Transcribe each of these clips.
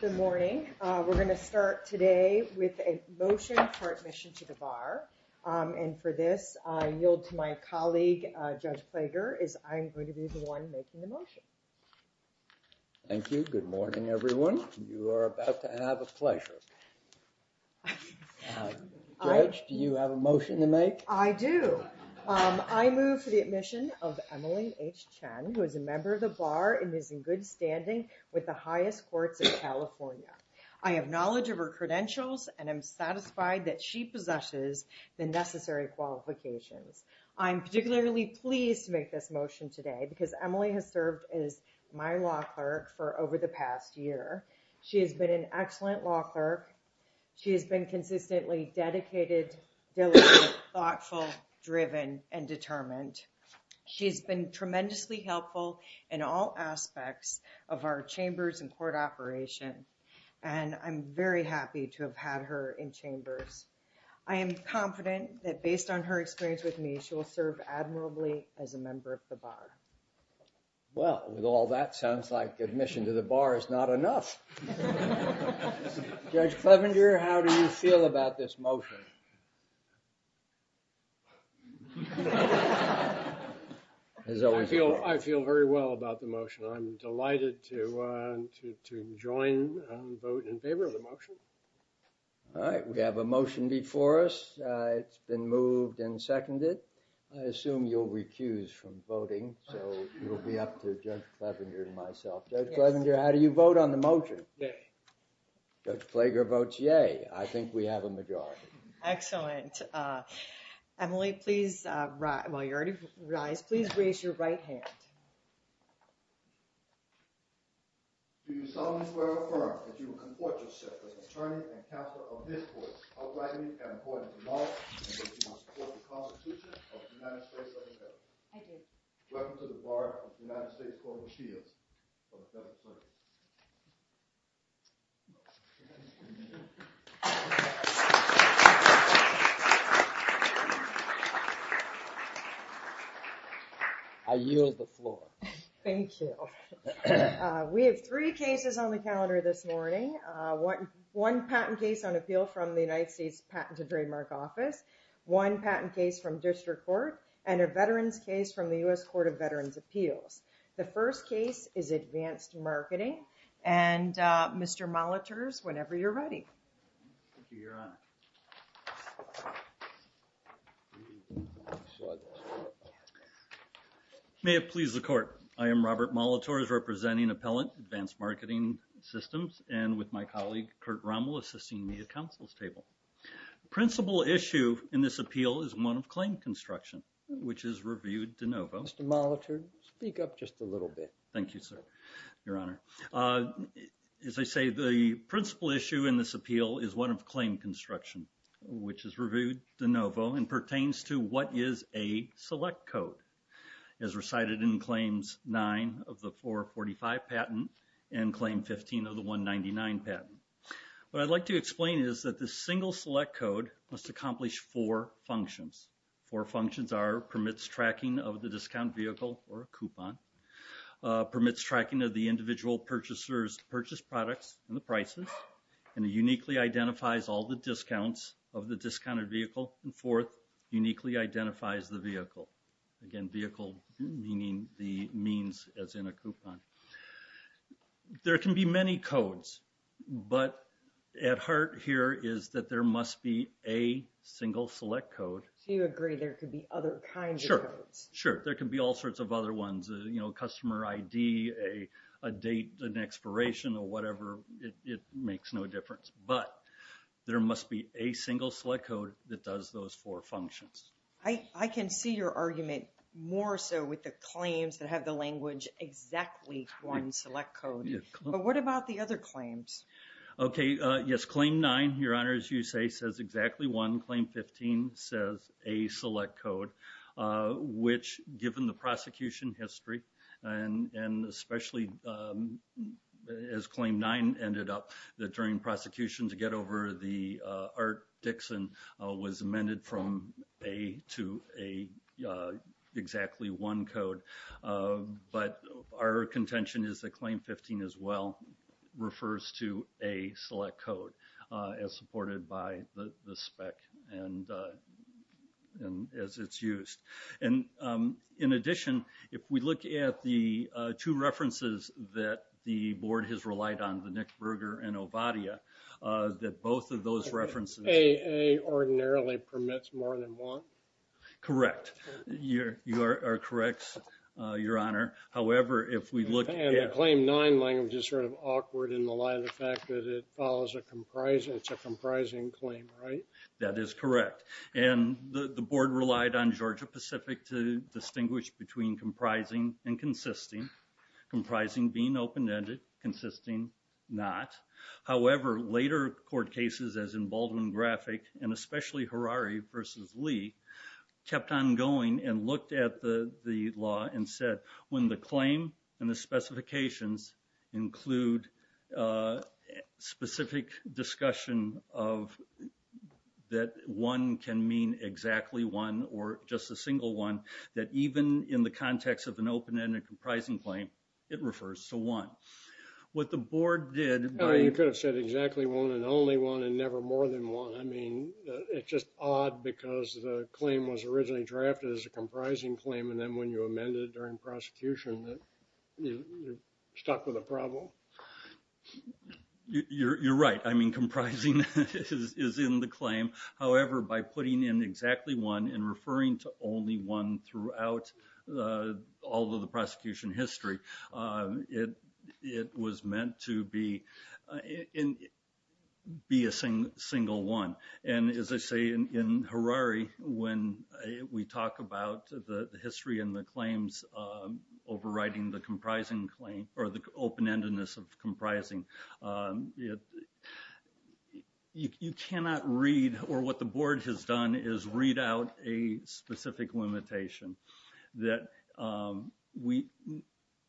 Good morning. We're going to start today with a motion for admission to the bar and for this I yield to my colleague Judge Plager as I'm going to be the one making the motion. Thank you. Good morning everyone. You are about to have a pleasure. Judge, do you have a motion to make? I do. I move for the admission of with the highest courts of California. I have knowledge of her credentials and I'm satisfied that she possesses the necessary qualifications. I'm particularly pleased to make this motion today because Emily has served as my law clerk for over the past year. She has been an excellent law clerk. She has been consistently dedicated, diligent, thoughtful, driven and determined. She has been tremendously helpful in all aspects of our chambers and court operation and I'm very happy to have had her in chambers. I am confident that based on her experience with me she will serve admirably as a member of the bar. Well, with all that sounds like admission to the bar is not enough. Judge Clevenger, how do you feel about this motion? I feel very well about the motion. I'm delighted to join vote in favor of the motion. All right, we have a motion before us. It's been moved and seconded. I assume you'll recuse from voting so it'll be up to Judge Clevenger and myself. Judge Clevenger, how do you vote on the motion? Judge Clevenger votes yay. I think we have a majority. Excellent. Emily, please rise. Please raise your right hand. I yield the floor. Thank you. We have three cases on the calendar this morning. One patent case on appeal from the United States Patent and Trademark Office, one patent case from District Court and a veterans case from the U.S. And Mr. Molitors, whenever you're ready. May it please the court. I am Robert Molitors representing Appellant Advanced Marketing Systems and with my colleague Kurt Rommel assisting me at counsel's table. Principal issue in this appeal is one of claim construction which is reviewed de novo. Mr. Molitor, speak up just a little bit. Thank you, sir, Your Honor. As I say, the principal issue in this appeal is one of claim construction which is reviewed de novo and pertains to what is a select code as recited in Claims 9 of the 445 patent and Claim 15 of the 199 patent. What I'd like to explain is that the single select code must accomplish four functions. Four functions are permits tracking of the individual purchasers to purchase products and the prices and uniquely identifies all the discounts of the discounted vehicle and fourth uniquely identifies the vehicle. Again vehicle meaning the means as in a coupon. There can be many codes but at heart here is that there must be a single select code. So you agree there could be other kinds of codes? Sure, there could be all sorts of other ones, you know, customer ID, a date, an expiration or whatever. It makes no difference but there must be a single select code that does those four functions. I can see your argument more so with the claims that have the language exactly one select code but what about the other claims? Okay, yes, Claim 9, Your Honor, as you say, says exactly one. Claim 15 says a select code which given the prosecution history and especially as Claim 9 ended up that during prosecution to get over the Art Dixon was amended from a to a exactly one code but our contention is that Claim 15 as well refers to a select code as supported by the spec and as it's used. And in addition if we look at the two references that the board has relied on, the Nick Berger and Ovadia, that both of those references... AA ordinarily permits more than one? Correct. You are correct, Your Honor. However, if we look at... And the Claim 9 language is sort of awkward in the light of the fact that it follows a comprising... it's a comprising claim, right? That is correct and the board relied on Georgia-Pacific to distinguish between comprising and consisting. Comprising being open-ended, consisting not. However, later court cases as in Baldwin-Graphic and especially Harari versus Lee kept on going and looked at the the law and said when the specific discussion of that one can mean exactly one or just a single one that even in the context of an open-ended comprising claim it refers to one. What the board did... You could have said exactly one and only one and never more than one. I mean it's just odd because the claim was originally drafted as a comprising claim and then when you amend it during prosecution that you're stuck with a problem. You're right. I mean comprising is in the claim. However, by putting in exactly one and referring to only one throughout all of the prosecution history, it was meant to be a single one. And as I say in Harari when we talk about the history and the claims overriding the open-endedness of comprising, you cannot read or what the board has done is read out a specific limitation that we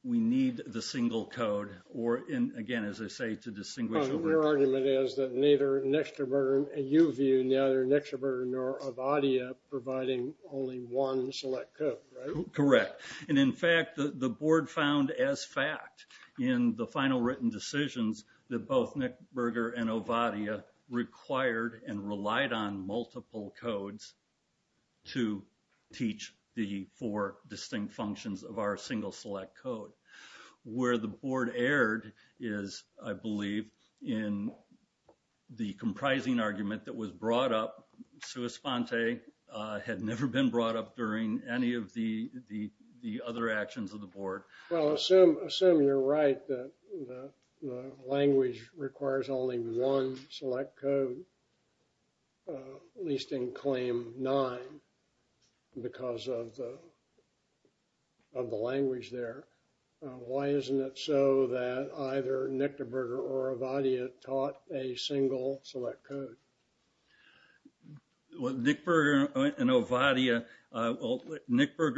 we need the single code or in again as I say to distinguish... Your argument is that neither Nextaverton and you view neither Nextaverton nor Avadia providing only one select code, right? Correct. And in fact the board found as fact in the final written decisions that both Nick Berger and Avadia required and relied on multiple codes to teach the four distinct functions of our single select code. Where the board erred is, I believe, in the comprising argument that was brought up. Suis Ponte had never been of the board. Well, assume you're right that the language requires only one select code, at least in claim nine, because of the language there. Why isn't it so that either Nick Berger or Avadia taught a single select code? Well, Nick Berger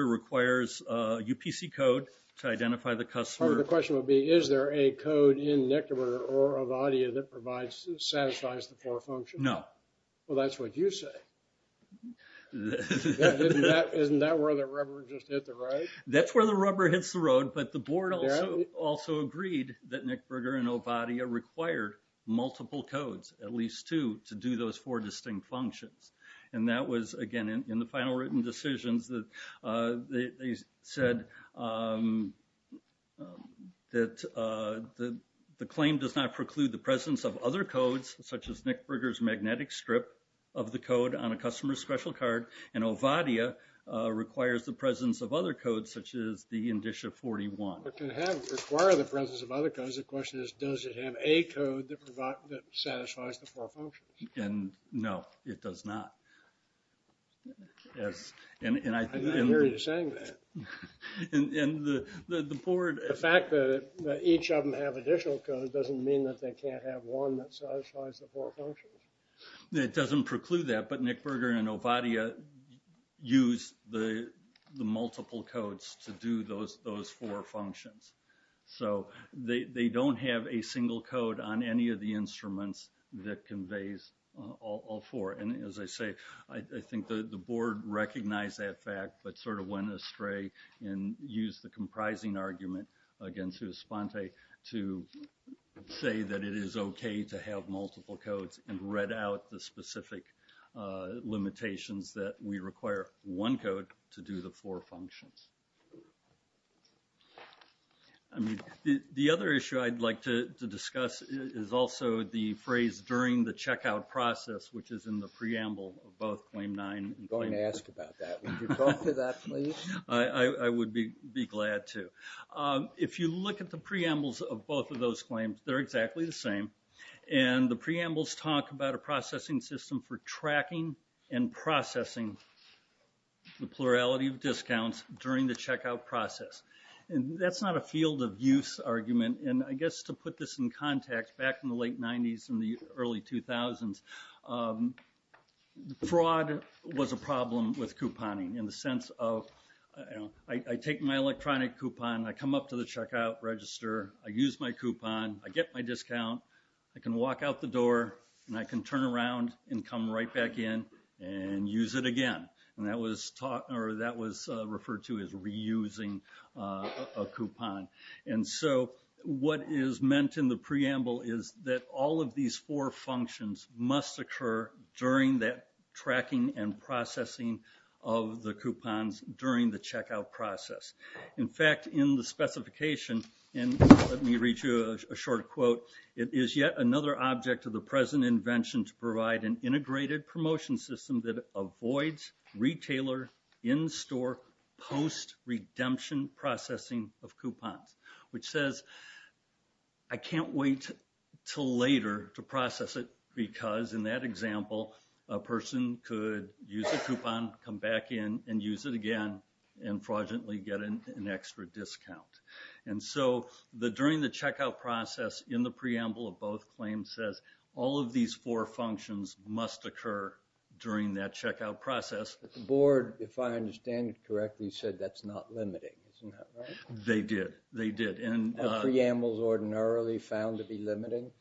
requires UPC code to identify the customer. The question would be is there a code in Nextaverton or Avadia that satisfies the four functions? No. Well, that's what you say. Isn't that where the rubber just hit the road? That's where the rubber hits the road, but the board also agreed that Nick Berger and Avadia required multiple codes, at least two, to do those four distinct functions. And that was again in the final written decisions that they said that the claim does not preclude the presence of other codes, such as Nick Berger's magnetic strip of the code on a customer's special card, and Avadia requires the presence of other codes, such as the Indicia 41. It can require the presence of other codes. The question is does it have a code that satisfies the four functions? Yes. I didn't hear you saying that. The fact that each of them have additional code doesn't mean that they can't have one that satisfies the four functions. It doesn't preclude that, but Nick Berger and Avadia use the multiple codes to do those four functions. So they don't have a single code on any of the I think the board recognized that fact, but sort of went astray and used the comprising argument against Uspante to say that it is okay to have multiple codes and read out the specific limitations that we require one code to do the four functions. I mean the other issue I'd like to discuss is also the phrase during the checkout process, which is in the preamble of both Claim 9. I'm going to ask about that. Would you talk to that please? I would be glad to. If you look at the preambles of both of those claims, they're exactly the same, and the preambles talk about a processing system for tracking and processing the plurality of discounts during the checkout process. And that's not a field of use argument, and I guess to put this in context, back in the late 90s and the early 2000s, fraud was a problem with couponing in the sense of I take my electronic coupon, I come up to the checkout register, I use my coupon, I get my discount, I can walk out the door and I can turn around and come right back in and use it again. And that was referred to as reusing a coupon. And so what is meant in the preamble is that all of these four functions must occur during that tracking and processing of the coupons during the checkout process. In fact, in the specification, and let me read you a short quote, it is yet another object of the present invention to provide an integrated promotion system that avoids retailer in-store post-redemption processing of coupons, which says I can't wait till later to process it because, in that example, a person could use a coupon, come back in and use it again, and fraudulently get an extra discount. And so the during the checkout process in the preamble of both claims says all of these four functions must occur during that checkout process. The board, if I understand it correctly, said that's not limiting, is that right? They did, they did. Are preambles ordinarily found to be limiting?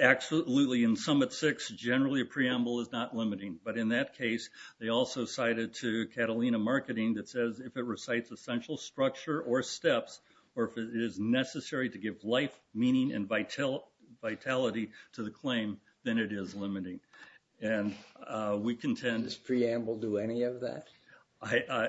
Absolutely. In Summit 6, generally a preamble is not limiting. But in that case, they also cited to Catalina Marketing that says if it recites essential structure or steps, or if it is necessary to give life, meaning, and vitality to the claim, then it is limiting. And we contend... Does preamble do any of that?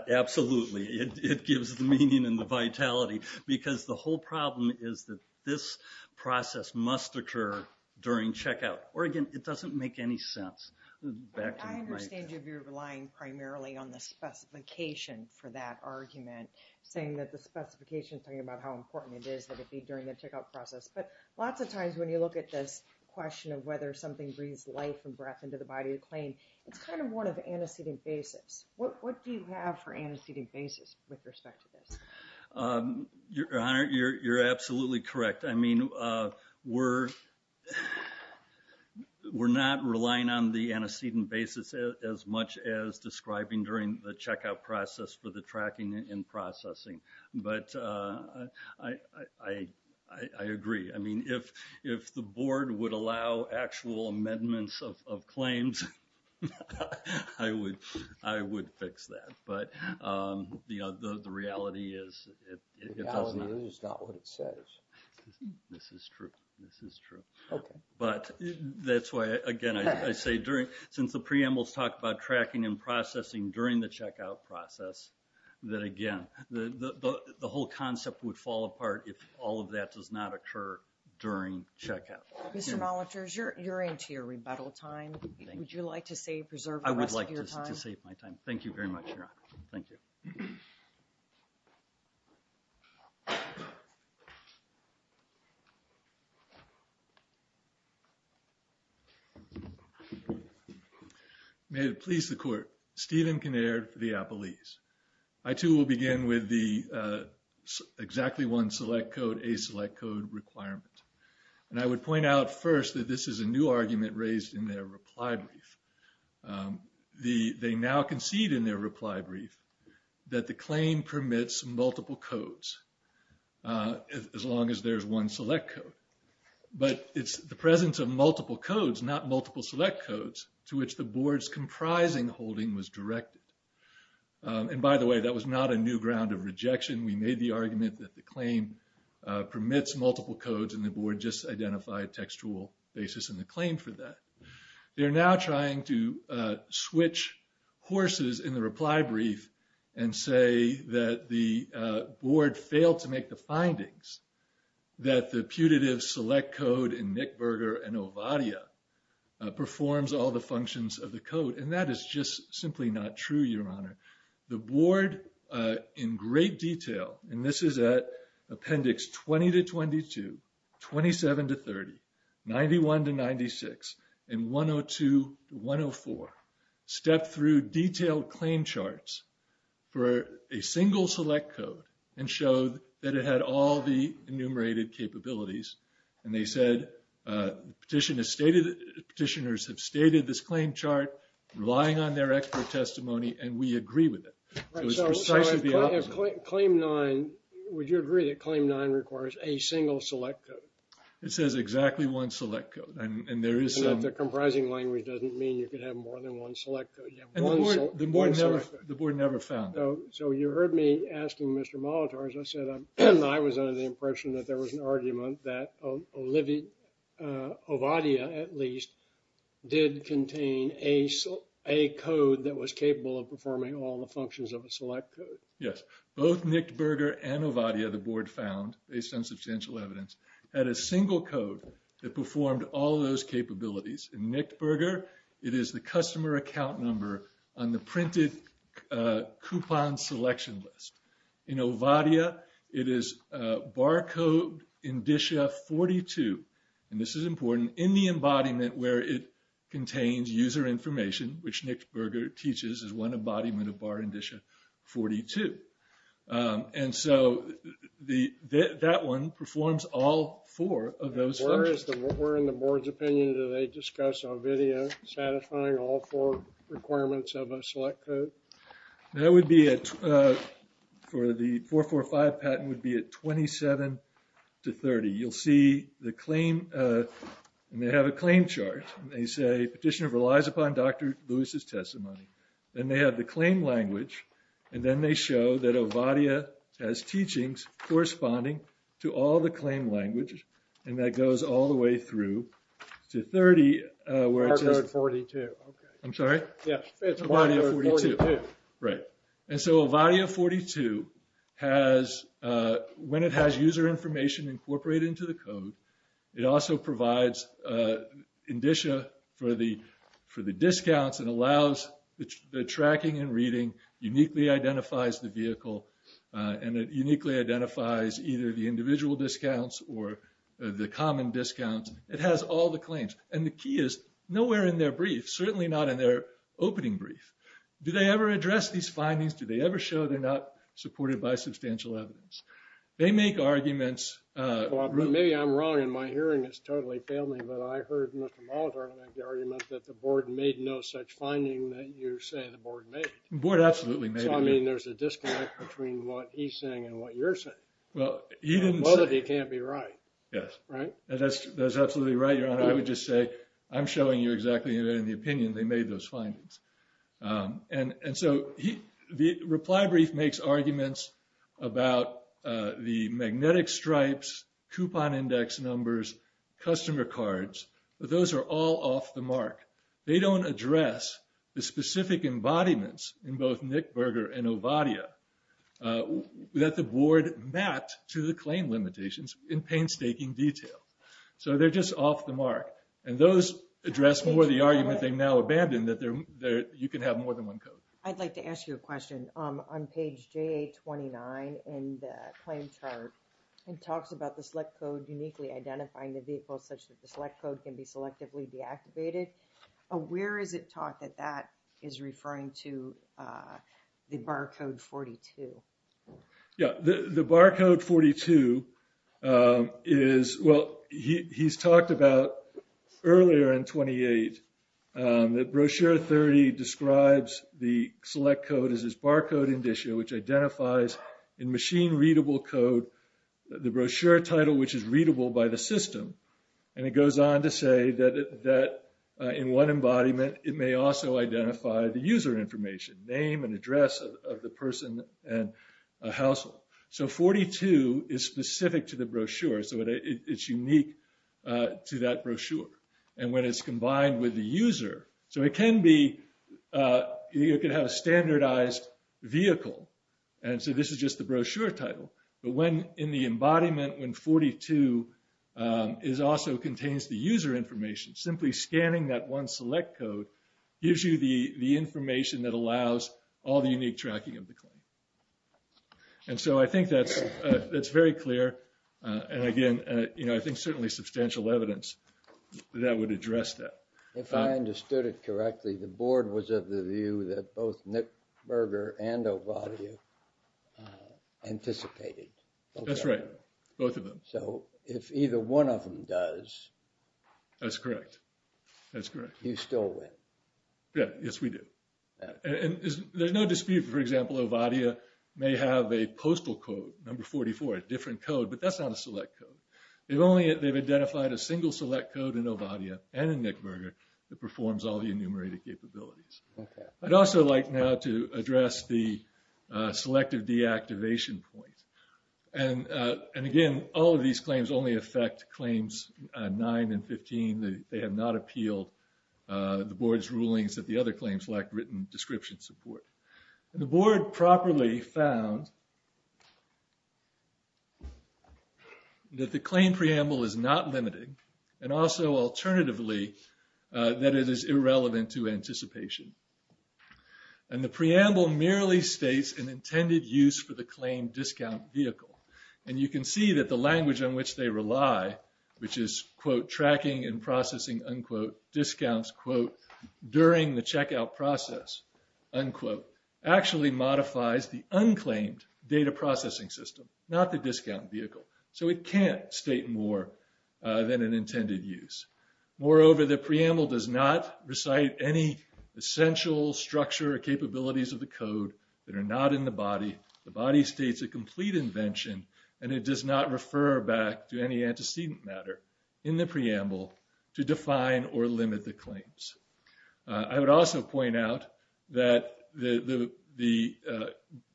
Absolutely. It gives the meaning and the vitality because the whole problem is that this process must occur during checkout. Or again, it doesn't make any sense. I understand you're relying primarily on the specification for that argument, saying that the specification is talking about how important it is that it be during the checkout process. But lots of times when you look at this question of whether something breathes life and breath into the body of the claim, it's kind of more of an antecedent basis. What do you have for antecedent basis with respect to this? Your Honor, you're absolutely correct. I mean, we're not relying on the antecedent basis as much as describing during the checkout process for the tracking and processing. But I agree. I would allow actual amendments of claims. I would fix that. But the reality is... The reality is not what it says. This is true. But that's why, again, I say since the preambles talk about tracking and processing during the checkout process, that again, the whole concept would fall apart if all of that does not occur during checkout. Mr. Molitors, you're into your rebuttal time. Would you like to save, preserve the rest of your time? I would like to save my time. Thank you very much, Your Honor. Thank you. May it please the Court. Stephen Kinnaird for the Appellees. I, too, will begin with the exactly one select code, a select code requirement. And I would point out first that this is a new argument raised in their reply brief. They now concede in their reply brief that the claim permits multiple codes as long as there's one select code. But it's the presence of multiple codes, not multiple select codes, to which the Board's comprising holding was directed. And by the way, that was not a new ground of rejection. We made the argument that the claim permits multiple codes and the Board just identified textual basis in the claim for that. They're now trying to switch horses in the reply brief and say that the Board failed to make the findings that the putative select code in Nick Berger and Ovadia performs all the functions of the code. And that is just simply not true, Your Honor. The Board in great detail, and this is at Appendix 20 to 22, 27 to 30, 91 to 96, and 102 to 104, stepped through detailed claim charts for a single select code and showed that it had all the enumerated capabilities. And they said petitioners have stated this claim chart, relying on their expert testimony, and we agree with it. So, it's precisely the opposite. So, if Claim 9, would you agree that Claim 9 requires a single select code? It says exactly one select code, and there is some... And if the comprising language doesn't mean you could have more than one select code. And the Board never found that. So, you heard me asking Mr. Molitor, as I said, I was under the impression that there was an argument that Ovadia, at least, did contain a code that was capable of performing all the functions of a select code. Yes. Both Nick Berger and Ovadia, the Board found, based on substantial evidence, had a single code that performed all those capabilities. In Nick Berger, it is the customer account number on the printed coupon selection list. In Ovadia, it is barcode indicia 42, and this is important, in the embodiment where it contains user information, which Nick Berger teaches is one embodiment of bar indicia 42. And so, that one performs all four of those functions. Where in the Board's opinion do they discuss Ovadia satisfying all four requirements of a select code? That would be at, for the 445 patent, would be at 27 to 30. You'll see the claim, and they have a claim chart, and they say petitioner relies upon Dr. Lewis' testimony. And they have the claim language, and then they show that Ovadia has teachings corresponding to all the claim language, and that goes all the way through to 30. Barcode 42. I'm sorry? Yes. Ovadia 42. Right. And so, Ovadia 42 has, when it has user information incorporated into the code, it also provides indicia for the discounts and allows the tracking and reading, uniquely identifies the vehicle, and it uniquely identifies either the individual discounts or the common discounts. It has all the claims, and the key is nowhere in their brief, certainly not in their opening brief. Do they ever address these findings? Do they ever show they're not supported by substantial evidence? They make arguments. Maybe I'm wrong, and my hearing has totally failed me, but I heard Mr. Molitor make the argument that the board made no such finding that you're saying the board made. The board absolutely made it. So, I mean, there's a disconnect between what he's saying and what you're saying. Well, he didn't say. Well, that he can't be right. Yes. Right. That's absolutely right, Your Honor. I would just say I'm showing you exactly in the opinion they made those findings. And so the reply brief makes arguments about the magnetic stripes, coupon index numbers, customer cards. Those are all off the mark. They don't address the specific embodiments in both Nick Berger and Ovadia that the board mapped to the claim limitations in painstaking detail. So they're just off the mark. And those address more the argument they've now abandoned that you can have more than one code. I'd like to ask you a question on page 29 and claim chart and talks about the select code uniquely identifying the vehicle such that the select code can be selectively deactivated. Where is it taught that that is referring to the barcode 42? Yeah, the barcode 42 is, well, he's talked about earlier in 28 that brochure 30 describes the select code is this barcode indicia, which identifies in machine readable code the brochure title, which is readable by the system. And it goes on to say that that in one embodiment, it may also identify the user information, name and address of the person and household. So 42 is specific to the brochure. So it's unique to that brochure. And when it's combined with the user, so it can be you can have a standardized vehicle. And so this is just the brochure title. But when in the embodiment, when 42 is also contains the user information, simply scanning that one select code gives you the information that allows all the unique tracking of the claim. And so I think that's that's very clear. And again, I think certainly substantial evidence that would address that. If I understood it correctly, the board was of the view that both Nick Berger and Ovadia anticipated. That's right. Both of them. So if either one of them does. That's correct. That's correct. You still win. Yes, we do. And there's no dispute, for example, Ovadia may have a postal code number 44, a different code, but that's not a select code. If only they've identified a single select code in Ovadia and in Nick Berger that performs all the enumerated capabilities. I'd also like now to address the selective deactivation point. And and again, all of these claims only affect claims nine and 15. They have not appealed the board's rulings that the other claims lack written description support. The board properly found. That the claim preamble is not limiting and also alternatively, that it is irrelevant to anticipation. And the preamble merely states an intended use for the claim discount vehicle. And you can see that the language on which they rely, which is, quote, tracking and processing, unquote, discounts, quote, during the checkout process, unquote, actually modifies the unclaimed data processing system, not the discount vehicle. So it can't state more than an intended use. Moreover, the preamble does not recite any essential structure or capabilities of the code that are not in the body. The body states a complete invention and it does not refer back to any antecedent matter in the preamble to define or limit the claims. I would also point out that the the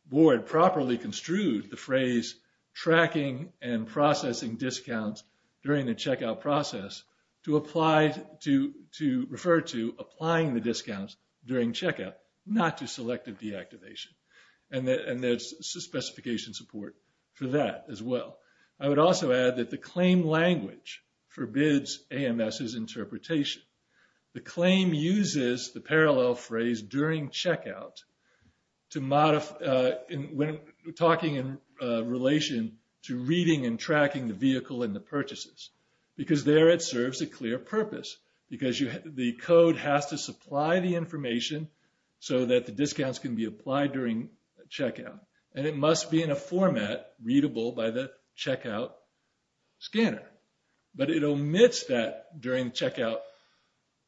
board properly construed the phrase tracking and processing discounts during the checkout process to apply to to refer to applying the discounts during checkout, not to selective deactivation. And there's specification support for that as well. I would also add that the claim language forbids AMS's interpretation. The claim uses the parallel phrase during checkout to modify when talking in relation to reading and tracking the vehicle and the purchases, because there it serves a clear purpose, because the code has to supply the information so that the discounts can be applied during checkout. And it must be in a format readable by the checkout scanner. But it omits that during checkout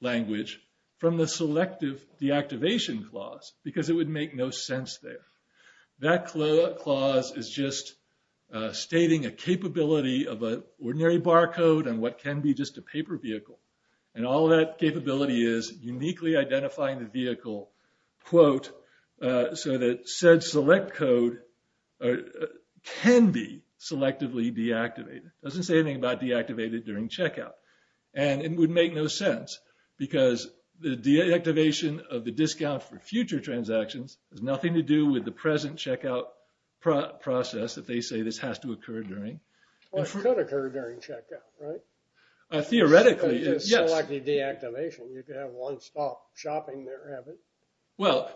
language from the selective deactivation clause, because it would make no sense there. That clause is just stating a capability of an ordinary barcode and what can be just a paper vehicle. And all that capability is uniquely identifying the vehicle, quote, so that said select code can be selectively deactivated. It doesn't say anything about deactivated during checkout. And it would make no sense, because the deactivation of the discount for future transactions has nothing to do with the present checkout process that they say this has to occur during. Well, it could occur during checkout, right? Theoretically, yes. Selectively deactivation, you could have one stop shopping there, haven't you? Well,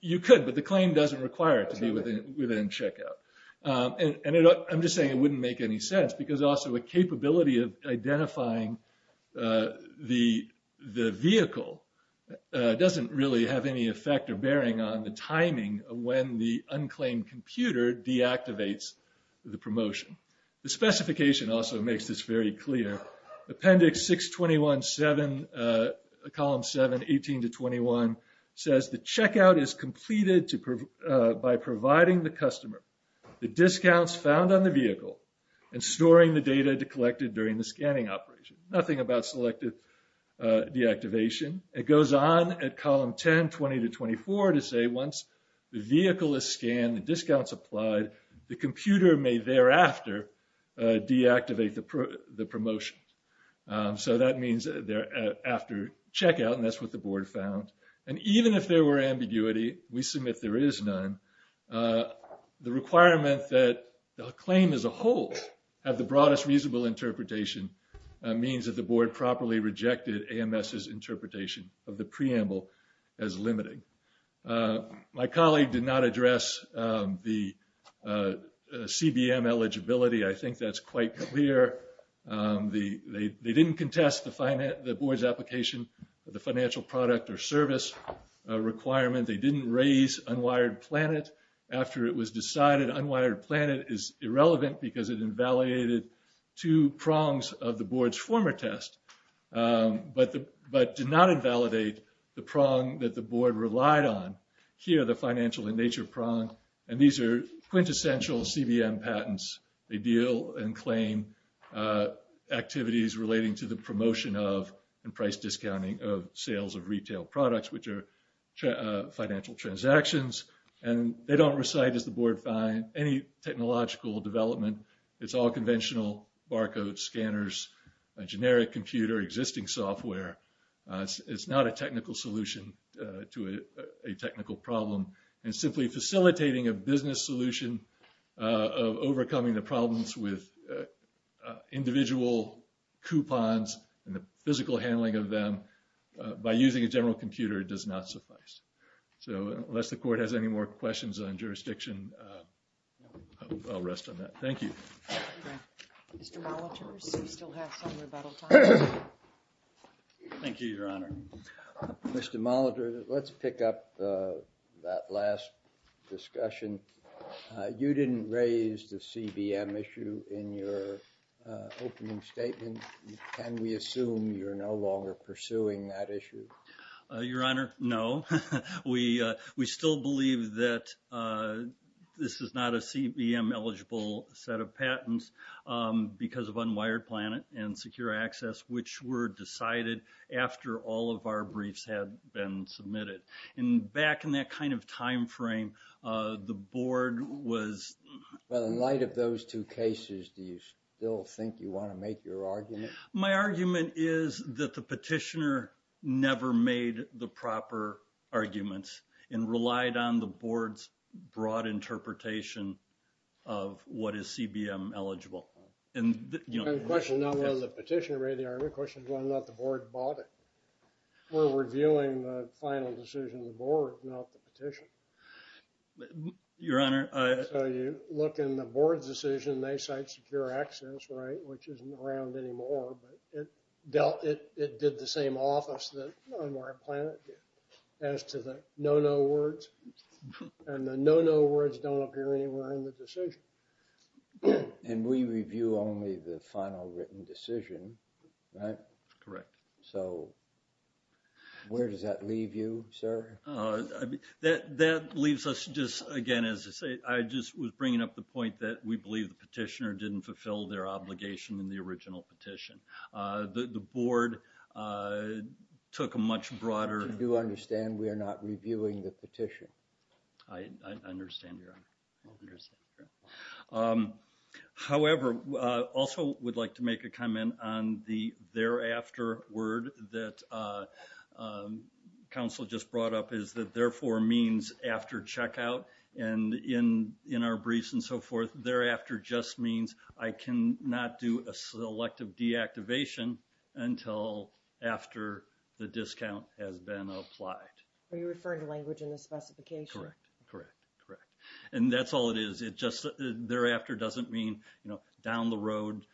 you could, but the claim doesn't require it to be within checkout. And I'm just saying it wouldn't make any sense, because also a capability of identifying the vehicle doesn't really have any effect or bearing on the timing of when the unclaimed computer deactivates the promotion. The specification also makes this very clear. Appendix 621-7, column 7, 18 to 21, says the checkout is completed by providing the customer the discounts found on the vehicle and storing the data collected during the scanning operation. Nothing about selective deactivation. It goes on at column 10, 20 to 24, to say once the vehicle is scanned and discounts applied, the computer may thereafter deactivate the promotion. So that means they're after checkout, and that's what the board found. And even if there were ambiguity, we submit there is none. The requirement that the claim as a whole have the broadest reasonable interpretation means that the board properly rejected AMS's interpretation of the preamble as limiting. My colleague did not address the CBM eligibility. I think that's quite clear. They didn't contest the board's application of the financial product or service requirement. They didn't raise unwired planet after it was decided. Unwired planet is irrelevant, because it invalidated two prongs of the board's former test, but did not invalidate the prong that the board relied on. Here, the financial in nature prong. And these are quintessential CBM patents. They deal and claim activities relating to the promotion of and price discounting of sales of retail products, which are financial transactions. And they don't recite, as the board find, any technological development. It's all conventional barcode scanners, a generic computer, existing software. It's not a technical solution to a technical problem. And simply facilitating a business solution of overcoming the problems with individual coupons and the physical handling of them by using a general computer does not suffice. So unless the court has any more questions on jurisdiction, I'll rest on that. Thank you. Mr. Molitor, do we still have some rebuttal time? Thank you, Your Honor. Mr. Molitor, let's pick up that last discussion. You didn't raise the CBM issue in your opening statement. Can we assume you're no longer pursuing that issue? Your Honor, no. We still believe that this is not a CBM-eligible set of patents because of unwired planet and secure access, which were decided after all of our briefs had been submitted. And back in that kind of time frame, the board was— Well, in light of those two cases, do you still think you want to make your argument? My argument is that the petitioner never made the proper arguments and relied on the board's broad interpretation of what is CBM-eligible. The question is not whether the petitioner raised the argument. The question is whether or not the board bought it. We're reviewing the final decision of the board, not the petition. Your Honor— So you look in the board's decision, they cite secure access, right, which isn't around anymore. But it did the same office that unwired planet did as to the no-no words. And the no-no words don't appear anywhere in the decision. And we review only the final written decision, right? Correct. So where does that leave you, sir? That leaves us just, again, as I say, I just was bringing up the point that we believe the petitioner didn't fulfill their obligation in the original petition. The board took a much broader— I do understand we are not reviewing the petition. I understand, Your Honor. However, I also would like to make a comment on the thereafter word that counsel just brought up is that therefore means after checkout. And in our briefs and so forth, thereafter just means I cannot do a selective deactivation until after the discount has been applied. Are you referring to language in the specification? Correct. Correct. And that's all it is. It just thereafter doesn't mean, you know, down the road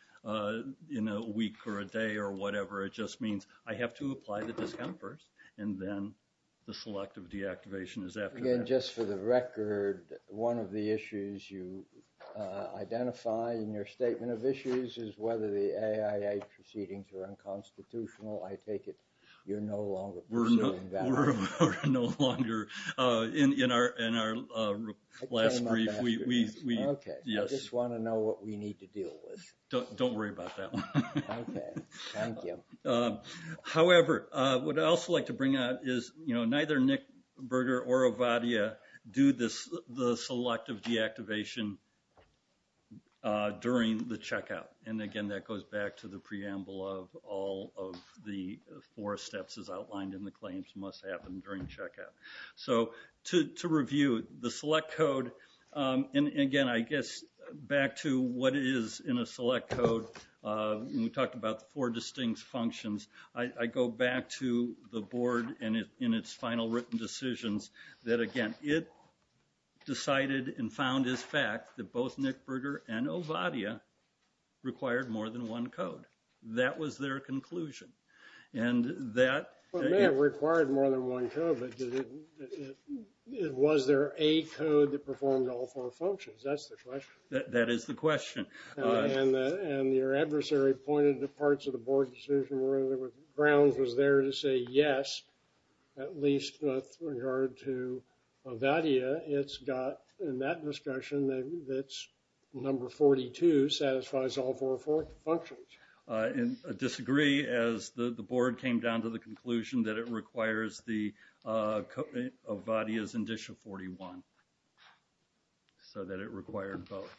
in a week or a day or whatever. It just means I have to apply the discount first, and then the selective deactivation is after that. Again, just for the record, one of the issues you identify in your statement of issues is whether the AIA proceedings are unconstitutional. I take it you're no longer pursuing that. No, we're no longer. In our last brief, we— Okay. Yes. I just want to know what we need to deal with. Don't worry about that one. Okay. Thank you. However, what I'd also like to bring out is, you know, neither Nick Berger or Ovadia do the selective deactivation during the checkout. And again, that goes back to the preamble of all of the four steps as outlined in the claims must happen during checkout. So, to review, the select code—and again, I guess back to what it is in a select code. We talked about the four distinct functions. I go back to the board in its final written decisions that, again, it decided and found as fact that both Nick Berger and Ovadia required more than one code. That was their conclusion. And that— Well, it may have required more than one code, but was there a code that performed all four functions? That's the question. That is the question. And your adversary pointed to parts of the board decision where Browns was there to say yes, at least with regard to Ovadia. It's got, in that discussion, that number 42 satisfies all four functions. I disagree, as the board came down to the conclusion that it requires the Ovadia's initial 41, so that it required both.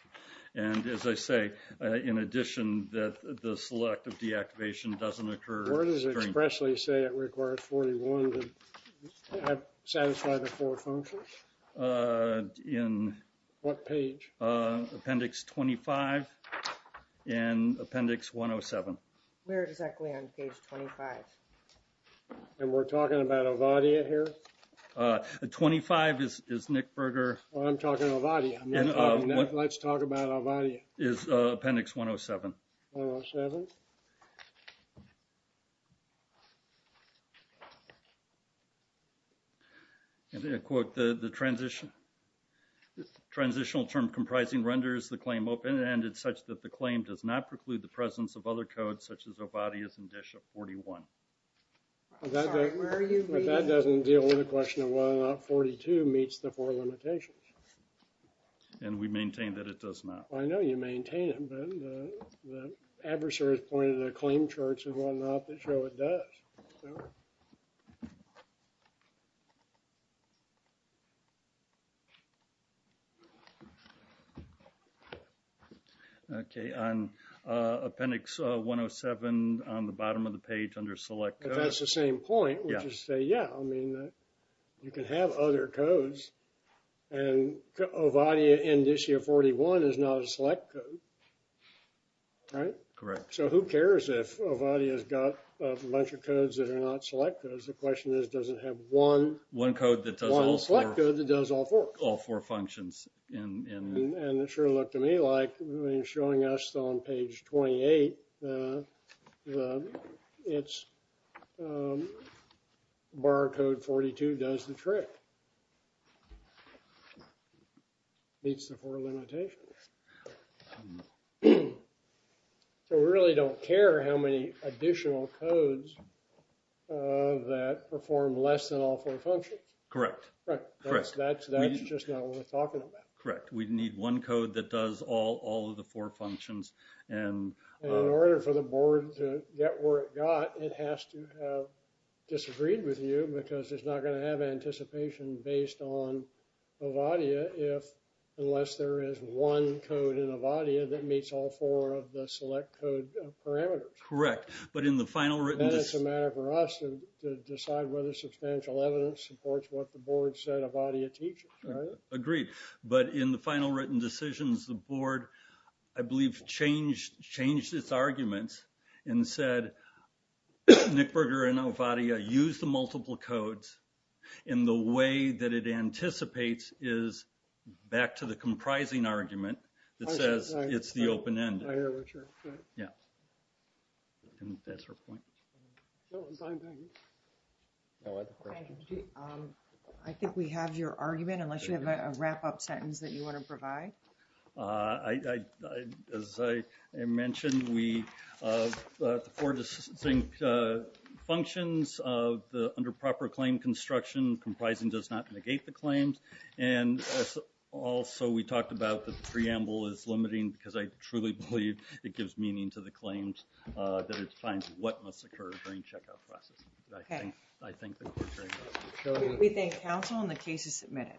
And, as I say, in addition that the select of deactivation doesn't occur during— Where does it expressly say it requires 41 to satisfy the four functions? In— What page? Appendix 25 and Appendix 107. Where exactly on page 25? And we're talking about Ovadia here? 25 is Nick Berger— I'm talking Ovadia. Let's talk about Ovadia. It's Appendix 107. 107. And I quote, the transitional term comprising renders the claim open-ended such that the claim does not preclude the presence of other codes such as Ovadia's initial 41. Sorry, where are you reading this? But that doesn't deal with the question of whether or not 42 meets the four limitations. And we maintain that it does not. I know you maintain it, but the adversaries pointed at claim charts and whatnot that show it does. No? Okay. On Appendix 107 on the bottom of the page under select codes— But that's the same point, which is to say, yeah, I mean, you can have other codes, and Ovadia initial 41 is not a select code. Right? Correct. So who cares if Ovadia's got a bunch of codes that are not select codes? The question is, does it have one— One code that does all four. One select code that does all four. All four functions. And it sure looked to me like, I mean, showing us on page 28, it's bar code 42 does the trick. Meets the four limitations. So we really don't care how many additional codes that perform less than all four functions. Correct. That's just not what we're talking about. Correct. We need one code that does all of the four functions. In order for the board to get where it got, it has to have disagreed with you because it's not going to have anticipation based on Ovadia unless there is one code in Ovadia that meets all four of the select code parameters. Correct. But in the final written— Then it's a matter for us to decide whether substantial evidence supports what the board said Ovadia teaches. Agreed. But in the final written decisions, the board, I believe, changed its arguments and said Nick Berger and Ovadia use the multiple codes in the way that it anticipates is back to the comprising argument that says it's the open-ended. I hear what you're saying. Yeah. And that's her point. I think we have your argument unless you have a wrap-up sentence that you want to provide. As I mentioned, the four distinct functions of the under proper claim construction, comprising does not negate the claims. And also, we talked about the preamble is limiting because I truly believe it gives meaning to the claims that it defines what must occur during checkout process. Okay. I think the court heard that. We thank counsel and the case is submitted.